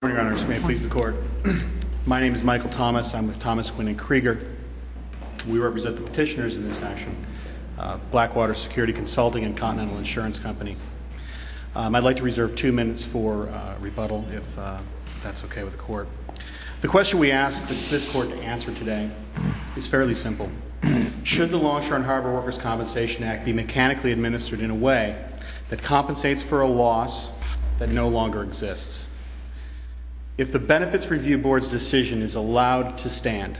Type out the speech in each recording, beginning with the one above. Good morning, Your Honor. May it please the Court. My name is Michael Thomas. I'm with Thomas Quinn and Krieger. We represent the petitioners in this action. Blackwater Security Consulting and Continental Insurance Company. I'd like to reserve two minutes for rebuttal if that's okay with the Court. The question we ask this Court to answer today is fairly simple. Should the Longshore and Harbor Workers' Compensation Act be mechanically administered in a way that compensates for a loss that no longer exists? If the Benefits Review Board's decision is allowed to stand,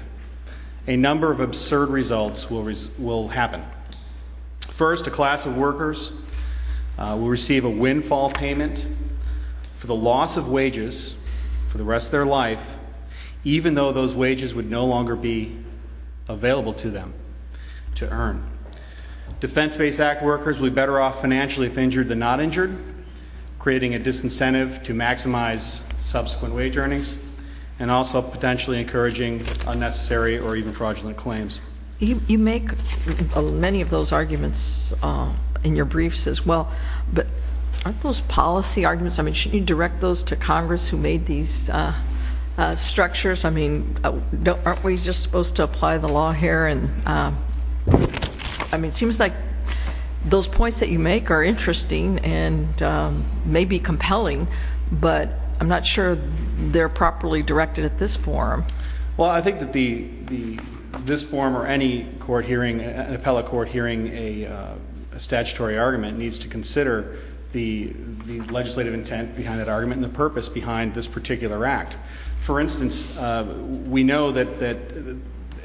a number of absurd results will happen. First, a class of workers will receive a windfall payment for the loss of wages for the rest of their life, even though those wages would no longer be available to them to earn. Defense-based Act workers will be better off financially if injured than not injured, creating a disincentive to maximize subsequent wage earnings and also potentially encouraging unnecessary or even fraudulent claims. You make many of those arguments in your briefs as well, but aren't those policy arguments? I mean, shouldn't you direct those to Congress who made these structures? I mean, aren't we just supposed to apply the law here? I mean, it seems like those points that you make are interesting and maybe compelling, but I'm not sure they're properly directed at this forum. Well, I think that this forum or any court hearing, an appellate court hearing, a statutory argument, needs to consider the legislative intent behind that argument and the purpose behind this particular act. For instance, we know that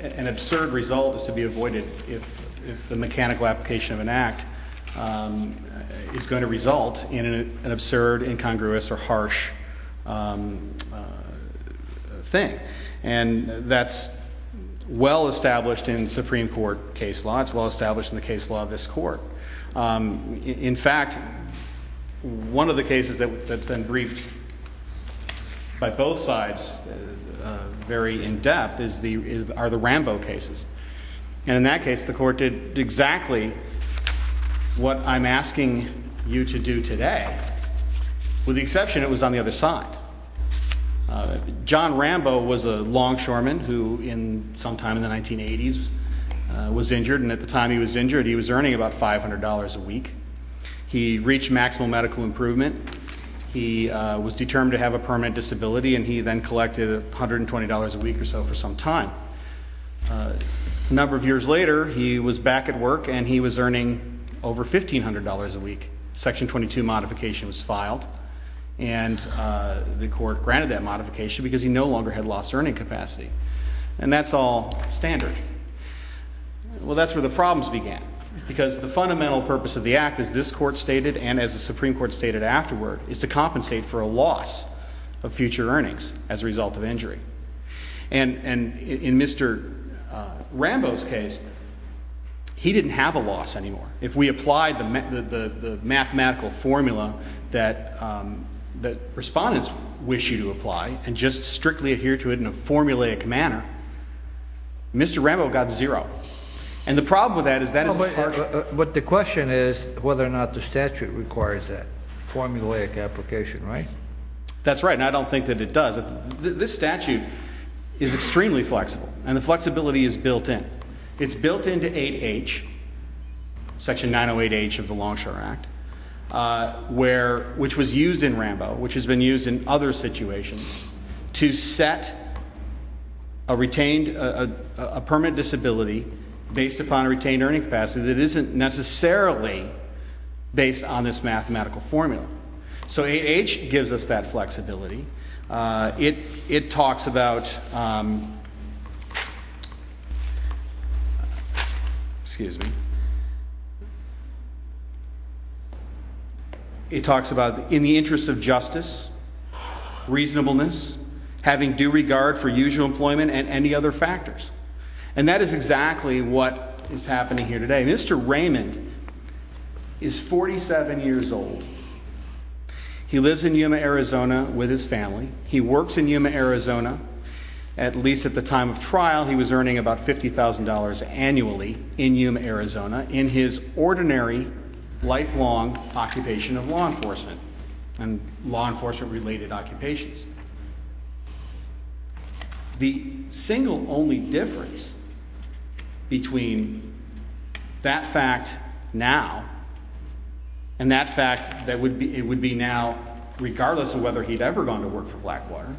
an absurd result is to be avoided if the mechanical application of an act is going to result in an absurd, incongruous, or harsh thing. And that's well-established in Supreme Court case law. It's well-established in the case law of this Court. In fact, one of the cases that's been briefed by both sides very in-depth are the Rambo cases. And in that case, the Court did exactly what I'm asking you to do today, with the exception it was on the other side. John Rambo was a longshoreman who, sometime in the 1980s, was injured. And at the time he was injured, he was earning about $500 a week. He reached maximal medical improvement. He was determined to have a permanent disability, and he then collected $120 a week or so for some time. A number of years later, he was back at work, and he was earning over $1,500 a week. Section 22 modification was filed, and the Court granted that modification because he no longer had lost earning capacity. And that's all standard. Well, that's where the problems began. Because the fundamental purpose of the act, as this Court stated, and as the Supreme Court stated afterward, is to compensate for a loss of future earnings as a result of injury. And in Mr. Rambo's case, he didn't have a loss anymore. If we applied the mathematical formula that respondents wish you to apply and just strictly adhere to it in a formulaic manner, Mr. Rambo got zero. And the problem with that is that is a partial... But the question is whether or not the statute requires that formulaic application, right? That's right, and I don't think that it does. This statute is extremely flexible, and the flexibility is built in. It's built into 8H, Section 908H of the Longshore Act, which was used in Rambo, which has been used in other situations, to set a retained, a permanent disability based upon retained earning capacity that isn't necessarily based on this mathematical formula. So 8H gives us that flexibility. It talks about... Excuse me. It talks about in the interest of justice, reasonableness, having due regard for usual employment, and any other factors. And that is exactly what is happening here today. And Mr. Raymond is 47 years old. He lives in Yuma, Arizona with his family. He works in Yuma, Arizona. At least at the time of trial, he was earning about $50,000 annually in Yuma, Arizona, in his ordinary, lifelong occupation of law enforcement, and law enforcement-related occupations. The single only difference between that fact now, and that fact that it would be now, regardless of whether he'd ever gone to work for Blackwater,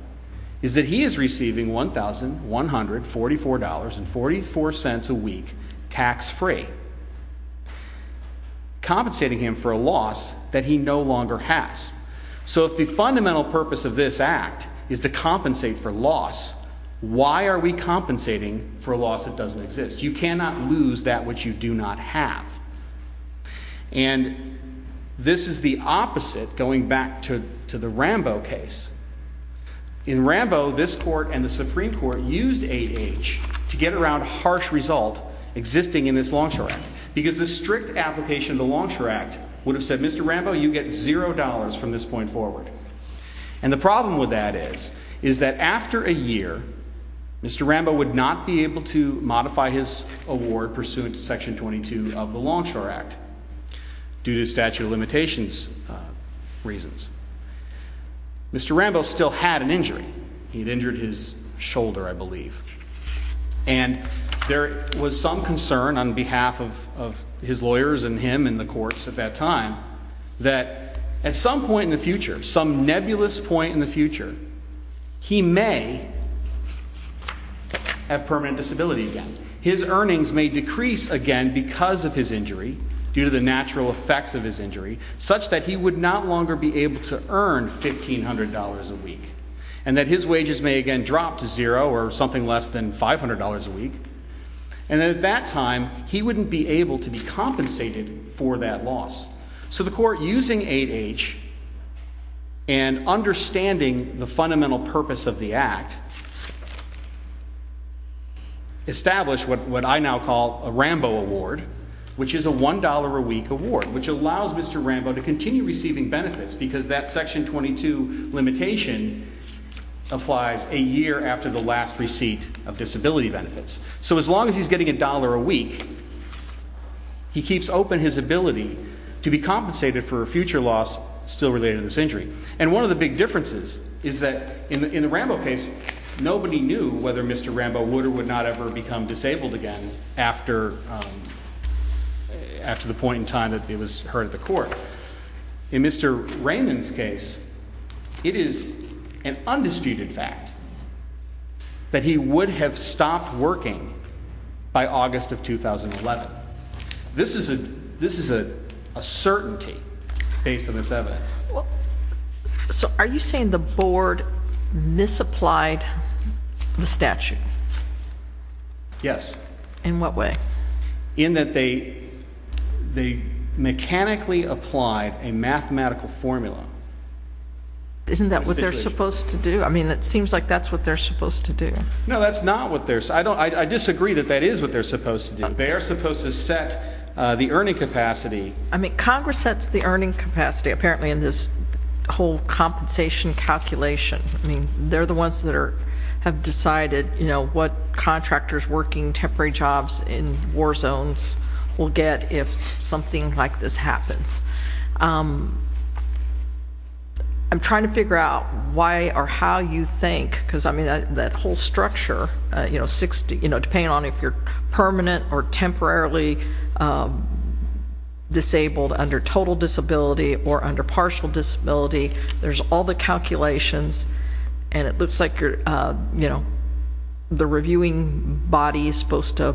is that he is receiving $1,144.44 a week, tax-free, compensating him for a loss that he no longer has. So if the fundamental purpose of this act is to compensate for loss, why are we compensating for a loss that doesn't exist? You cannot lose that which you do not have. And this is the opposite, going back to the Rambo case. In Rambo, this court and the Supreme Court used 8H to get around a harsh result existing in this Longshore Act. Because the strict application of the Longshore Act would have said, Mr. Rambo, you get $0 from this point forward. And the problem with that is, is that after a year, Mr. Rambo would not be able to modify his award pursuant to Section 22 of the Longshore Act, due to statute of limitations reasons. Mr. Rambo still had an injury. He had injured his shoulder, I believe. And there was some concern on behalf of his lawyers and him and the courts at that time, that at some point in the future, some nebulous point in the future, he may have permanent disability again. His earnings may decrease again because of his injury, due to the natural effects of his injury, such that he would not longer be able to earn $1,500 a week. And that his wages may again drop to $0 or something less than $500 a week. And at that time, he wouldn't be able to be compensated for that loss. So the court, using 8H and understanding the fundamental purpose of the Act, established what I now call a Rambo Award, which is a $1 a week award, which allows Mr. Rambo to continue receiving benefits, because that Section 22 limitation applies a year after the last receipt of disability benefits. So as long as he's getting $1 a week, he keeps open his ability to be compensated for a future loss still related to this injury. And one of the big differences is that in the Rambo case, nobody knew whether Mr. Rambo would or would not ever become disabled again, after the point in time that it was heard at the court. In Mr. Raymond's case, it is an undisputed fact that he would have stopped working by August of 2011. This is a certainty based on this evidence. So are you saying the board misapplied the statute? Yes. In what way? In that they mechanically applied a mathematical formula. Isn't that what they're supposed to do? I mean, it seems like that's what they're supposed to do. No, that's not what they're... I disagree that that is what they're supposed to do. They are supposed to set the earning capacity. I mean, Congress sets the earning capacity, apparently in this whole compensation calculation. I mean, they're the ones that have decided, you know, what contractors working temporary jobs in war zones will get if something like this happens. I'm trying to figure out why or how you think, because, I mean, that whole structure, you know, depending on if you're permanent or temporarily disabled under total disability or under partial disability, there's all the calculations, and it looks like you're, you know, the reviewing body is supposed to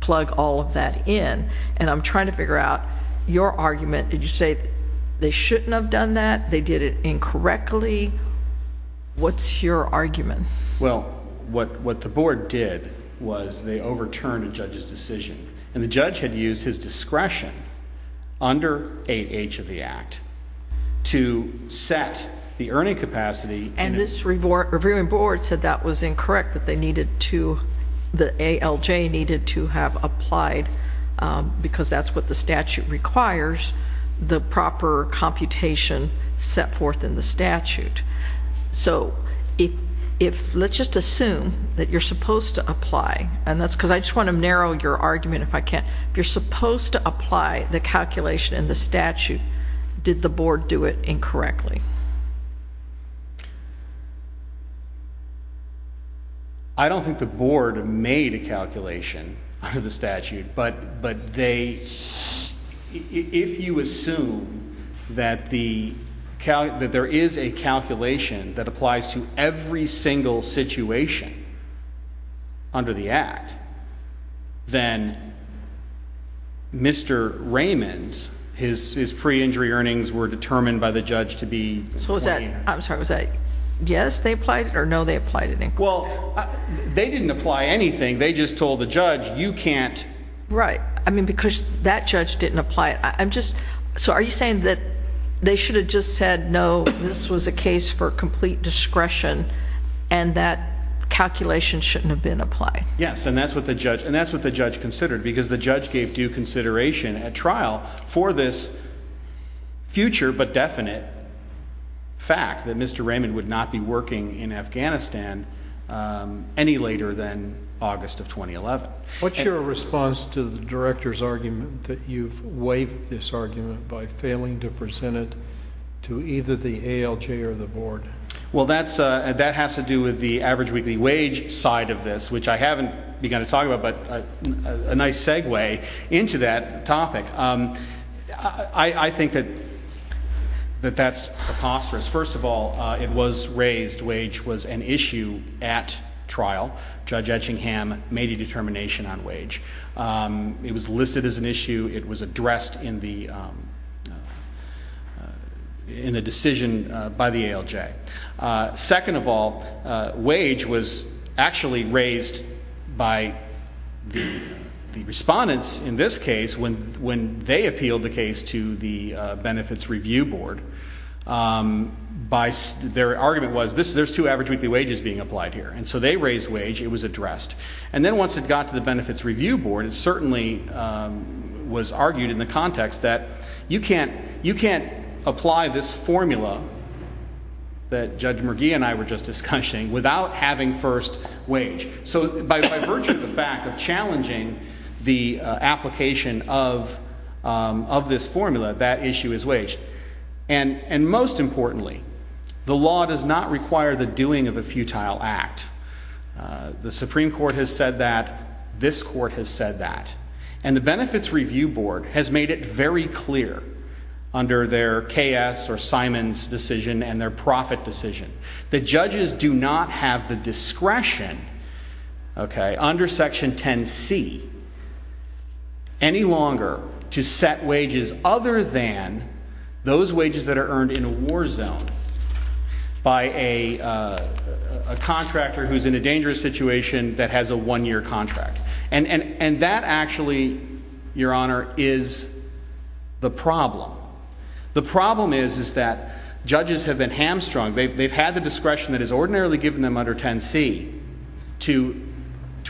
plug all of that in, and I'm trying to figure out your argument. Did you say they shouldn't have done that? They did it incorrectly? What's your argument? Well, what the board did was they overturned a judge's decision, and the judge had used his discretion under 8H of the Act to set the earning capacity. And this reviewing board said that was incorrect, that they needed to, the ALJ needed to have applied, because that's what the statute requires, the proper computation set forth in the statute. So if, let's just assume that you're supposed to apply, and that's because I just want to narrow your argument if I can. If you're supposed to apply the calculation in the statute, did the board do it incorrectly? I don't think the board made a calculation under the statute, but they, if you assume that there is a calculation that applies to every single situation under the Act, then Mr. Raymond's, his pre-injury earnings were determined by the judge to be... So was that, I'm sorry, was that yes, they applied it, or no, they applied it incorrectly? Well, they didn't apply anything. They just told the judge, you can't... Right. I mean, because that judge didn't apply it. I'm just, so are you saying that they should have just said, no, this was a case for complete discretion, and that calculation shouldn't have been applied? Yes, and that's what the judge considered, because the judge gave due consideration at trial for this future but definite fact that Mr. Raymond would not be working in Afghanistan any later than August of 2011. What's your response to the director's argument that you've waived this argument by failing to present it to either the ALJ or the board? Well, that has to do with the average weekly wage side of this, which I haven't begun to talk about, but a nice segue into that topic. I think that that's preposterous. First of all, it was raised wage was an issue at trial. Judge Etchingham made a determination on wage. It was listed as an issue. It was addressed in the decision by the ALJ. Second of all, wage was actually raised by the respondents in this case when they appealed the case to the Benefits Review Board. Their argument was, there's two average weekly wages being applied here, and so they raised wage, it was addressed. And then once it got to the Benefits Review Board, it certainly was argued in the context that you can't apply this formula that Judge McGee and I were just discussing without having first wage. So by virtue of the fact of challenging the application of this formula, that issue is waged. And most importantly, the law does not require the doing of a futile act. The Supreme Court has said that. This court has said that. And the Benefits Review Board has made it very clear under their K.S. or Simon's decision and their profit decision that judges do not have the discretion, under Section 10C, any longer to set wages other than those wages that are earned in a war zone by a contractor who's in a dangerous situation that has a one-year contract. And that actually, Your Honor, is the problem. The problem is that judges have been hamstrung. They've had the discretion that is ordinarily given them under 10C to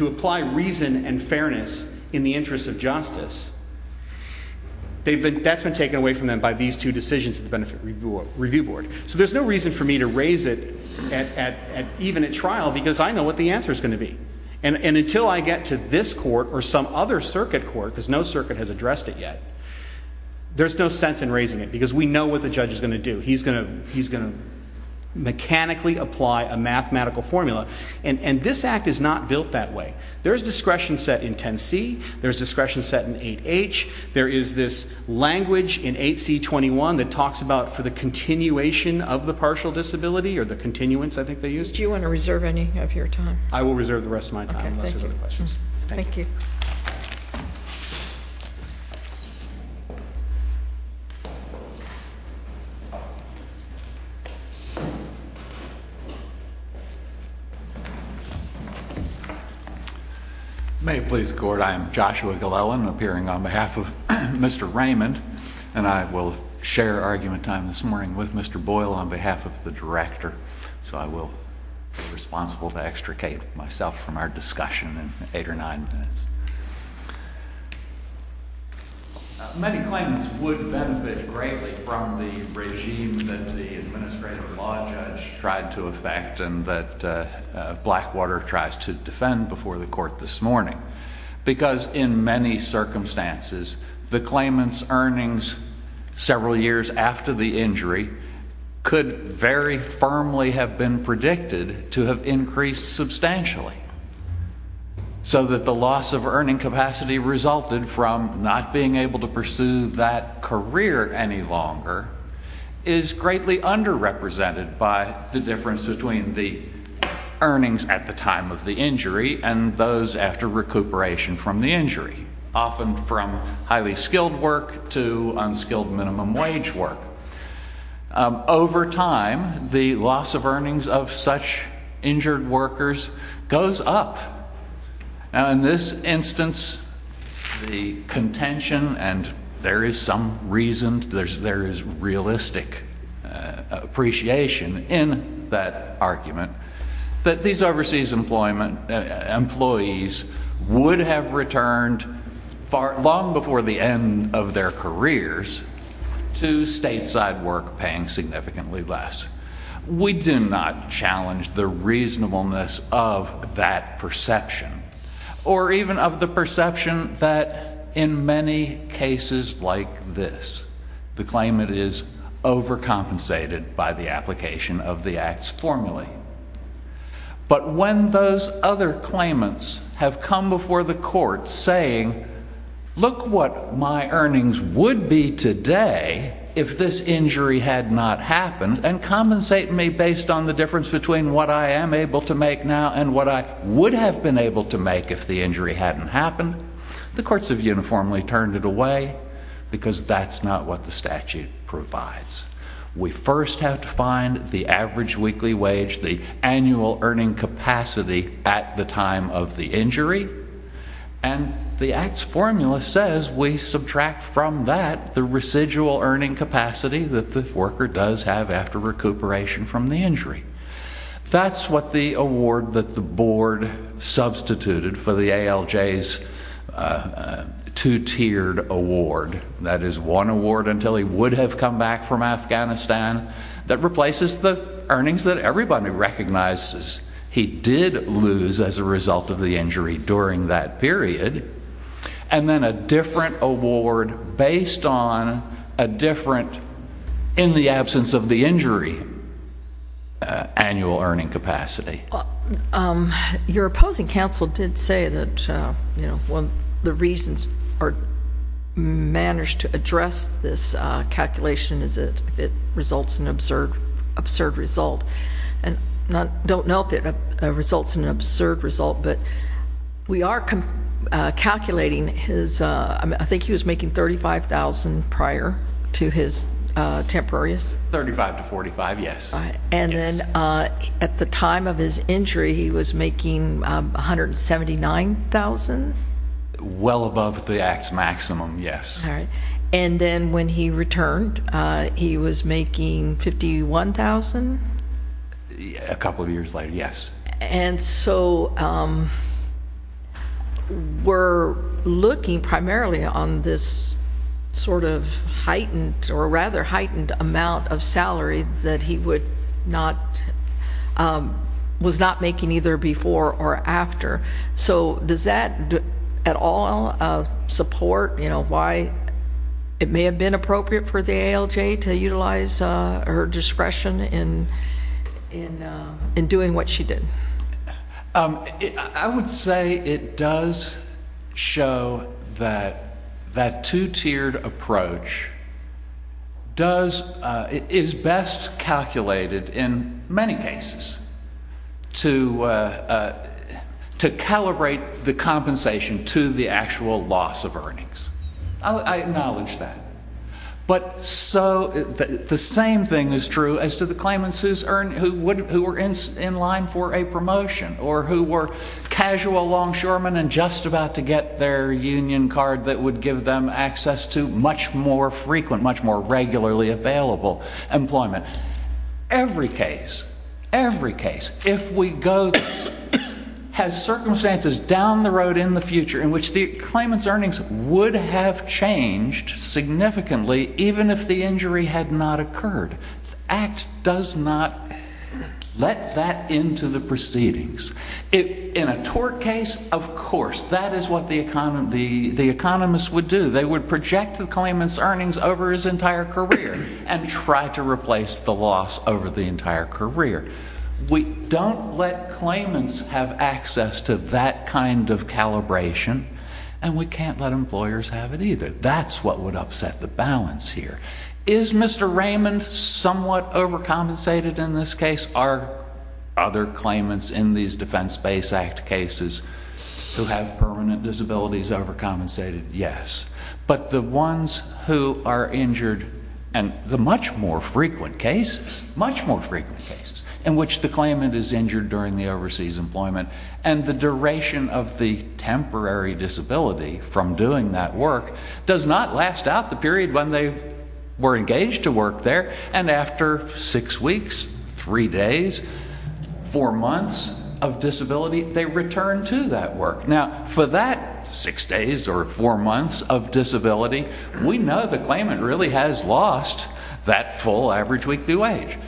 apply reason and fairness in the interest of justice. That's been taken away from them by these two decisions of the Benefits Review Board. So there's no reason for me to raise it even at trial because I know what the answer's going to be. And until I get to this court or some other circuit court, because no circuit has addressed it yet, there's no sense in raising it because we know what the judge is going to do. He's going to mechanically apply a mathematical formula. And this Act is not built that way. There's discretion set in 10C. There's discretion set in 8H. There is this language in 8C21 that talks about for the continuation of the partial disability, or the continuance, I think they use. Do you want to reserve any of your time? I will reserve the rest of my time unless there's other questions. Thank you. May it please the court, I am Joshua Glellen, appearing on behalf of Mr. Raymond, and I will share argument time this morning with Mr. Boyle on behalf of the director. So I will be responsible to extricate myself from our discussion in eight or nine minutes. Many claimants would benefit greatly from the regime that the administrative law judge tried to effect and that Blackwater tries to defend before the court this morning because in many circumstances, the claimant's earnings several years after the injury could very firmly have been predicted to have increased substantially, so that the loss of earning capacity resulted from not being able to pursue that career any longer is greatly underrepresented by the difference between the earnings at the time of the injury and those after recuperation from the injury, often from highly skilled work to unskilled minimum wage work. Over time, the loss of earnings of such injured workers goes up. Now, in this instance, the contention, and there is some reason, there is realistic appreciation in that argument, that these overseas employees would have returned long before the end of their careers to stateside work paying significantly less. We do not challenge the reasonableness of that perception, or even of the perception that in many cases like this, the claimant is overcompensated by the application of the Act's formula. But when those other claimants have come before the court saying, look what my earnings would be today if this injury had not happened, and compensate me based on the difference between what I am able to make now and what I would have been able to make if the injury hadn't happened, the courts have uniformly turned it away, because that's not what the statute provides. We first have to find the average weekly wage, the annual earning capacity at the time of the injury, and the Act's formula says we subtract from that the residual earning capacity that the worker does have after recuperation from the injury. That's what the award that the board substituted for the ALJ's two-tiered award, that is one award until he would have come back from Afghanistan, that replaces the earnings that everybody recognizes he did lose as a result of the injury during that period, and then a different award based on a different, in the absence of the injury, annual earning capacity. Your opposing counsel did say that one of the reasons or manners to address this calculation is that it results in an absurd result. I don't know if it results in an absurd result, but we are calculating his, I think he was making $35,000 prior to his temporaries? $35,000 to $45,000, yes. And then at the time of his injury, he was making $179,000? Well above the Act's maximum, yes. And then when he returned, he was making $51,000? A couple of years later, yes. And so we're looking primarily on this sort of heightened, or rather heightened amount of salary that he was not making either before or after. So does that at all support why it may have been appropriate for the ALJ to utilize her discretion in doing what she did? I would say it does show that that two-tiered approach is best calculated in many cases to calibrate the compensation to the actual loss of earnings. I acknowledge that. But so the same thing is true as to the claimants who were in line for a promotion or who were casual longshoremen and just about to get their union card that would give them access to much more frequent, much more regularly available employment. Every case, every case, if we go, has circumstances down the road in the future in which the claimant's earnings would have changed significantly even if the injury had not occurred. The Act does not let that into the proceedings. In a tort case, of course, that is what the economist would do. They would project the claimant's earnings over his entire career and try to replace the loss over the entire career. We don't let claimants have access to that kind of calibration, and we can't let employers have it either. That's what would upset the balance here. Is Mr. Raymond somewhat overcompensated in this case? Are other claimants in these Defense Base Act cases who have permanent disabilities overcompensated? Yes. But the ones who are injured, and the much more frequent cases, much more frequent cases, in which the claimant is injured during the overseas employment and the duration of the temporary disability from doing that work does not last out the period when they were engaged to work there, and after six weeks, three days, four months of disability, they return to that work. Now, for that six days or four months of disability, we know the claimant really has lost that full average weekly wage.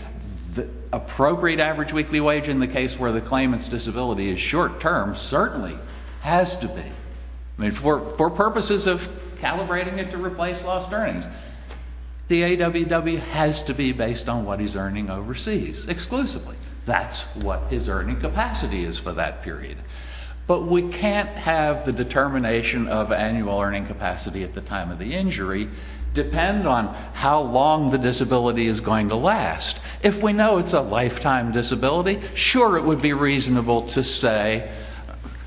The appropriate average weekly wage in the case where the claimant's disability is short-term certainly has to be. I mean, for purposes of calibrating it to replace lost earnings, the AWW has to be based on what he's earning overseas exclusively. That's what his earning capacity is for that period. But we can't have the determination of annual earning capacity at the time of the injury depend on how long the disability is going to last. If we know it's a lifetime disability, sure it would be reasonable to say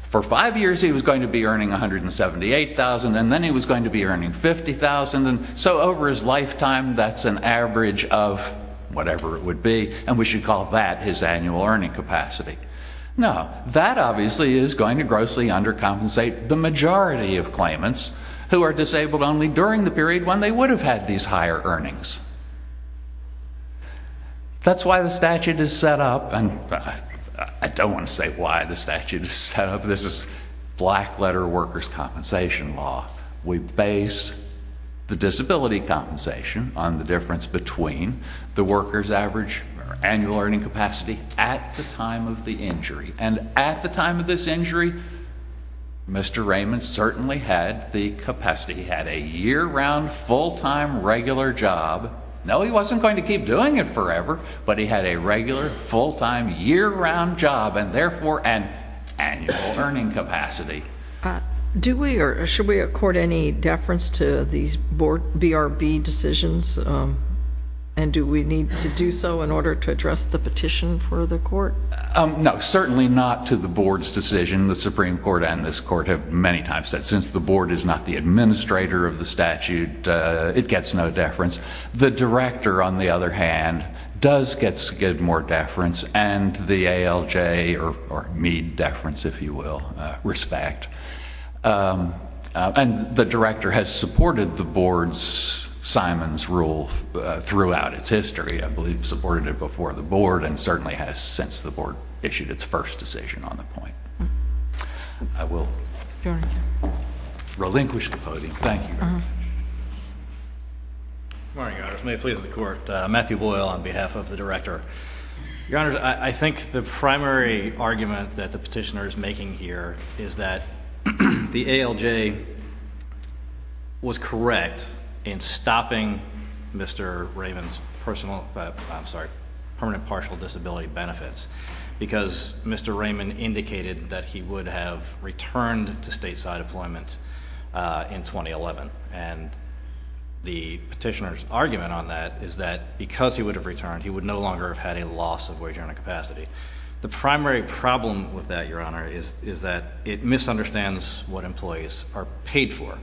for five years he was going to be earning $178,000 and then he was going to be earning $50,000, so over his lifetime that's an average of whatever it would be, and we should call that his annual earning capacity. No, that obviously is going to grossly undercompensate the majority of claimants who are disabled only during the period when they would have had these higher earnings. That's why the statute is set up, and I don't want to say why the statute is set up. This is black-letter workers' compensation law. We base the disability compensation on the difference between the workers' average annual earning capacity at the time of the injury, and at the time of this injury, Mr. Raymond certainly had the capacity. He had a year-round, full-time, regular job. No, he wasn't going to keep doing it forever, but he had a regular, full-time, year-round job and therefore an annual earning capacity. Should we accord any deference to these BRB decisions, and do we need to do so in order to address the petition for the court? No, certainly not to the board's decision. The Supreme Court and this court have many times said since the board is not the administrator of the statute, it gets no deference. The director, on the other hand, does get more deference, and the ALJ, or Meade deference, if you will, respect. And the director has supported the board's, Simon's rule throughout its history. I believe he supported it before the board, and certainly has since the board issued its first decision on the point. I will relinquish the voting. Thank you very much. Good morning, Your Honors. May it please the court. Matthew Boyle on behalf of the director. Your Honors, I think the primary argument that the petitioner is making here is that the ALJ was correct in stopping Mr. Raymond's personal, I'm sorry, permanent partial disability benefits because Mr. Raymond indicated that he would have returned to stateside employment in 2011. And the petitioner's argument on that is that because he would have returned, he would no longer have had a loss of wage earning capacity. The primary problem with that, Your Honor, is that it misunderstands what employees are paid for.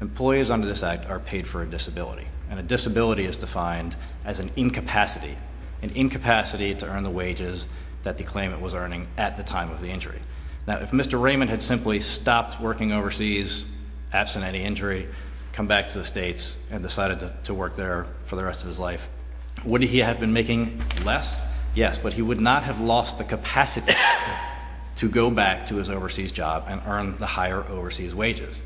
Employees under this act are paid for a disability. And a disability is defined as an incapacity, an incapacity to earn the wages that the claimant was earning at the time of the injury. Now, if Mr. Raymond had simply stopped working overseas, absent any injury, come back to the states, and decided to work there for the rest of his life, would he have been making less? Yes. But he would not have lost the capacity to go back to his overseas job and earn the higher overseas wages.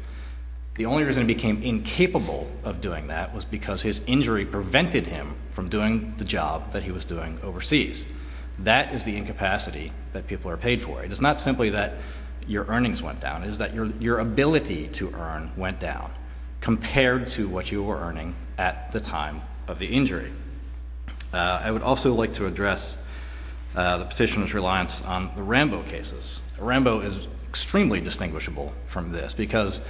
The only reason he became incapable of doing that was because his injury prevented him from doing the job that he was doing overseas. That is the incapacity that people are paid for. It is not simply that your earnings went down. It is that your ability to earn went down compared to what you were earning at the time of the injury. I would also like to address the petitioner's reliance on the Rambo cases. Rambo is extremely distinguishable from this because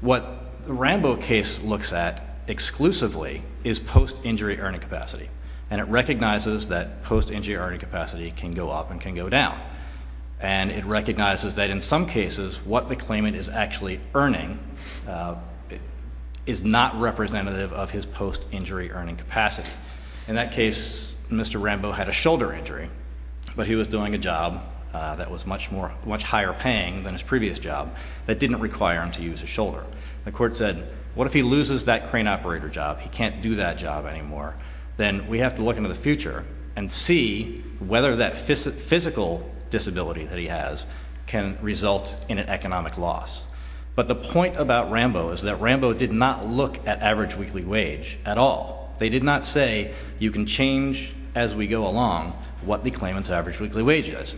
what the Rambo case looks at exclusively is post-injury earning capacity. And it recognizes that post-injury earning capacity can go up and can go down. And it recognizes that in some cases, what the claimant is actually earning is not representative of his post-injury earning capacity. In that case, Mr. Rambo had a shoulder injury, but he was doing a job that was much higher paying than his previous job that didn't require him to use his shoulder. The court said, what if he loses that crane operator job? He can't do that job anymore. Then we have to look into the future and see whether that physical disability that he has can result in an economic loss. But the point about Rambo is that Rambo did not look at average weekly wage at all. They did not say, you can change as we go along what the claimant's average weekly wage is.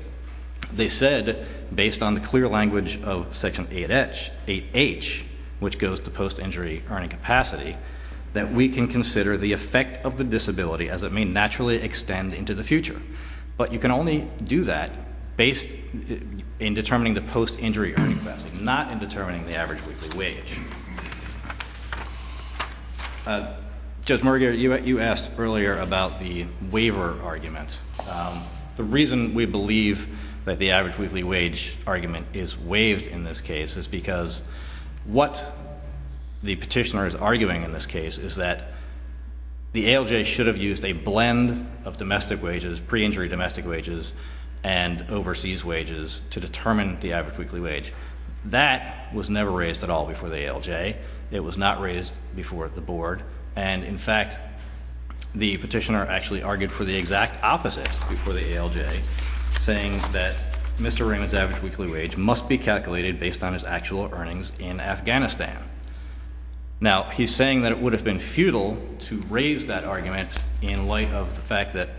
They said, based on the clear language of Section 8H, which goes to post-injury earning capacity, that we can consider the effect of the disability as it may naturally extend into the future. But you can only do that based in determining the post-injury earning capacity, not in determining the average weekly wage. Judge Merger, you asked earlier about the waiver argument. The reason we believe that the average weekly wage argument is waived in this case is because what the petitioner is arguing in this case is that the ALJ should have used a blend of domestic wages, pre-injury domestic wages, and overseas wages to determine the average weekly wage. That was never raised at all before the ALJ. It was not raised before the board. And in fact, the petitioner actually argued for the exact opposite before the ALJ, saying that Mr. Raymond's average weekly wage must be calculated based on his actual earnings in Afghanistan. Now, he's saying that it would have been futile to raise that argument in light of the fact that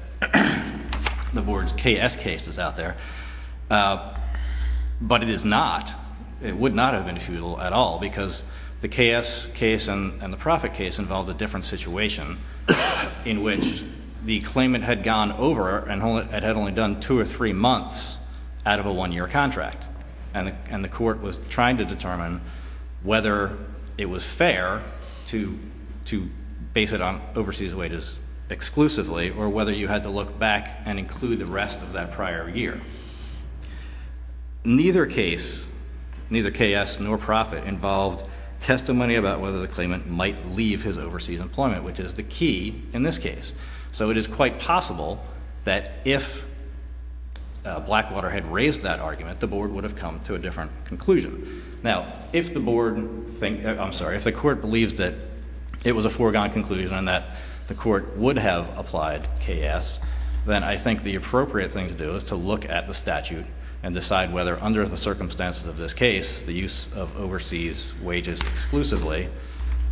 the board's KS case is out there. But it is not. It would not have been futile at all because the KS case and the profit case involved a different situation in which the claimant had gone over and had only done two or three months out of a one-year contract, and the court was trying to determine whether it was fair to base it on overseas wages exclusively or whether you had to look back and include the rest of that prior year. Neither case, neither KS nor profit, involved testimony about whether the claimant might leave his overseas employment, which is the key in this case. So it is quite possible that if Blackwater had raised that argument, the board would have come to a different conclusion. Now, if the board... I'm sorry, if the court believes that it was a foregone conclusion and that the court would have applied KS, then I think the appropriate thing to do is to look at the statute and decide whether under the circumstances of this case the use of overseas wages exclusively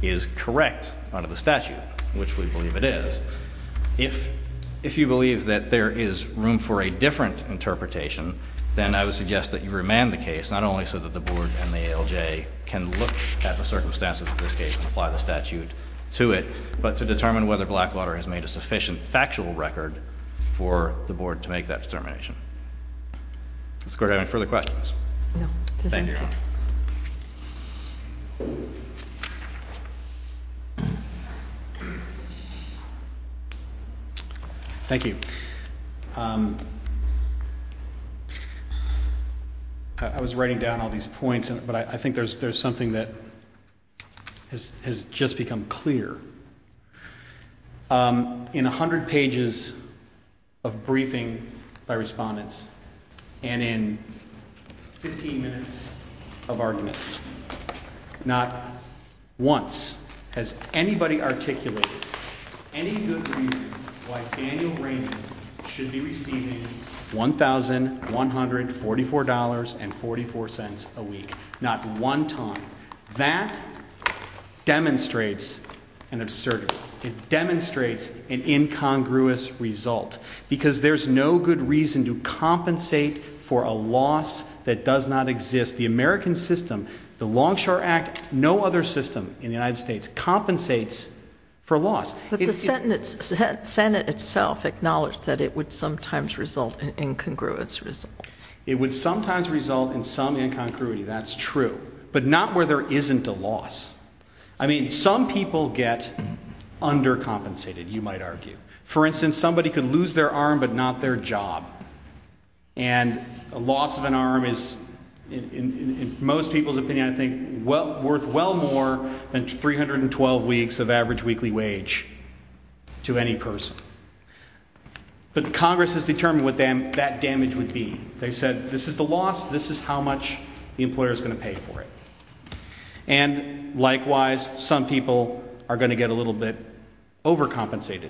is correct under the statute, which we believe it is. If you believe that there is room for a different interpretation, then I would suggest that you remand the case, not only so that the board and the ALJ can look at the circumstances of this case and apply the statute to it, but to determine whether Blackwater has made a sufficient factual record for the board to make that determination. Does the court have any further questions? No. Thank you. Thank you. I was writing down all these points, but I think there's something that has just become clear. In 100 pages of briefing by respondents and in 15 minutes of arguments, not once has anybody articulated any good reason why Daniel Raymond should be receiving $1,144.44 a week. Not one time. That demonstrates an absurdity. It demonstrates an incongruous result because there's no good reason to compensate for a loss that does not exist. The American system, the Longshore Act, no other system in the United States compensates for loss. But the Senate itself acknowledged that it would sometimes result in incongruous results. It would sometimes result in some incongruity. That's true. But not where there isn't a loss. I mean, some people get undercompensated, you might argue. For instance, somebody could lose their arm but not their job. And a loss of an arm is, in most people's opinion, I think, worth well more than 312 weeks of average weekly wage to any person. But Congress has determined what that damage would be. They said, this is the loss, this is how much the employer is going to pay for it. And likewise, some people are going to get a little bit overcompensated.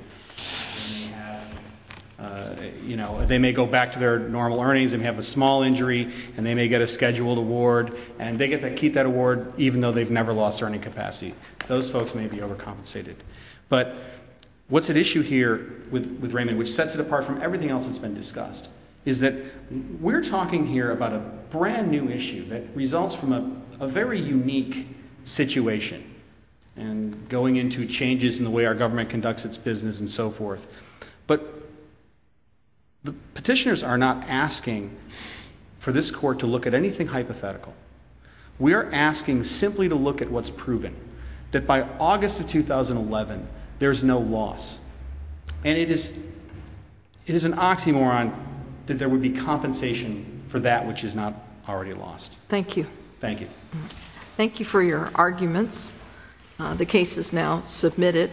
You know, they may go back to their normal earnings, they may have a small injury, and they may get a scheduled award, and they get to keep that award even though they've never lost earning capacity. Those folks may be overcompensated. But what's at issue here with Raymond, which sets it apart from everything else that's been discussed, is that we're talking here about a brand new issue that results from a very unique situation and going into changes in the way our government conducts its business and so forth. But the petitioners are not asking for this court to look at anything hypothetical. We are asking simply to look at what's proven, that by August of 2011, there's no loss. And it is an oxymoron that there would be compensation for that which is not already lost. Thank you. Thank you. Thank you for your arguments. The case is now submitted.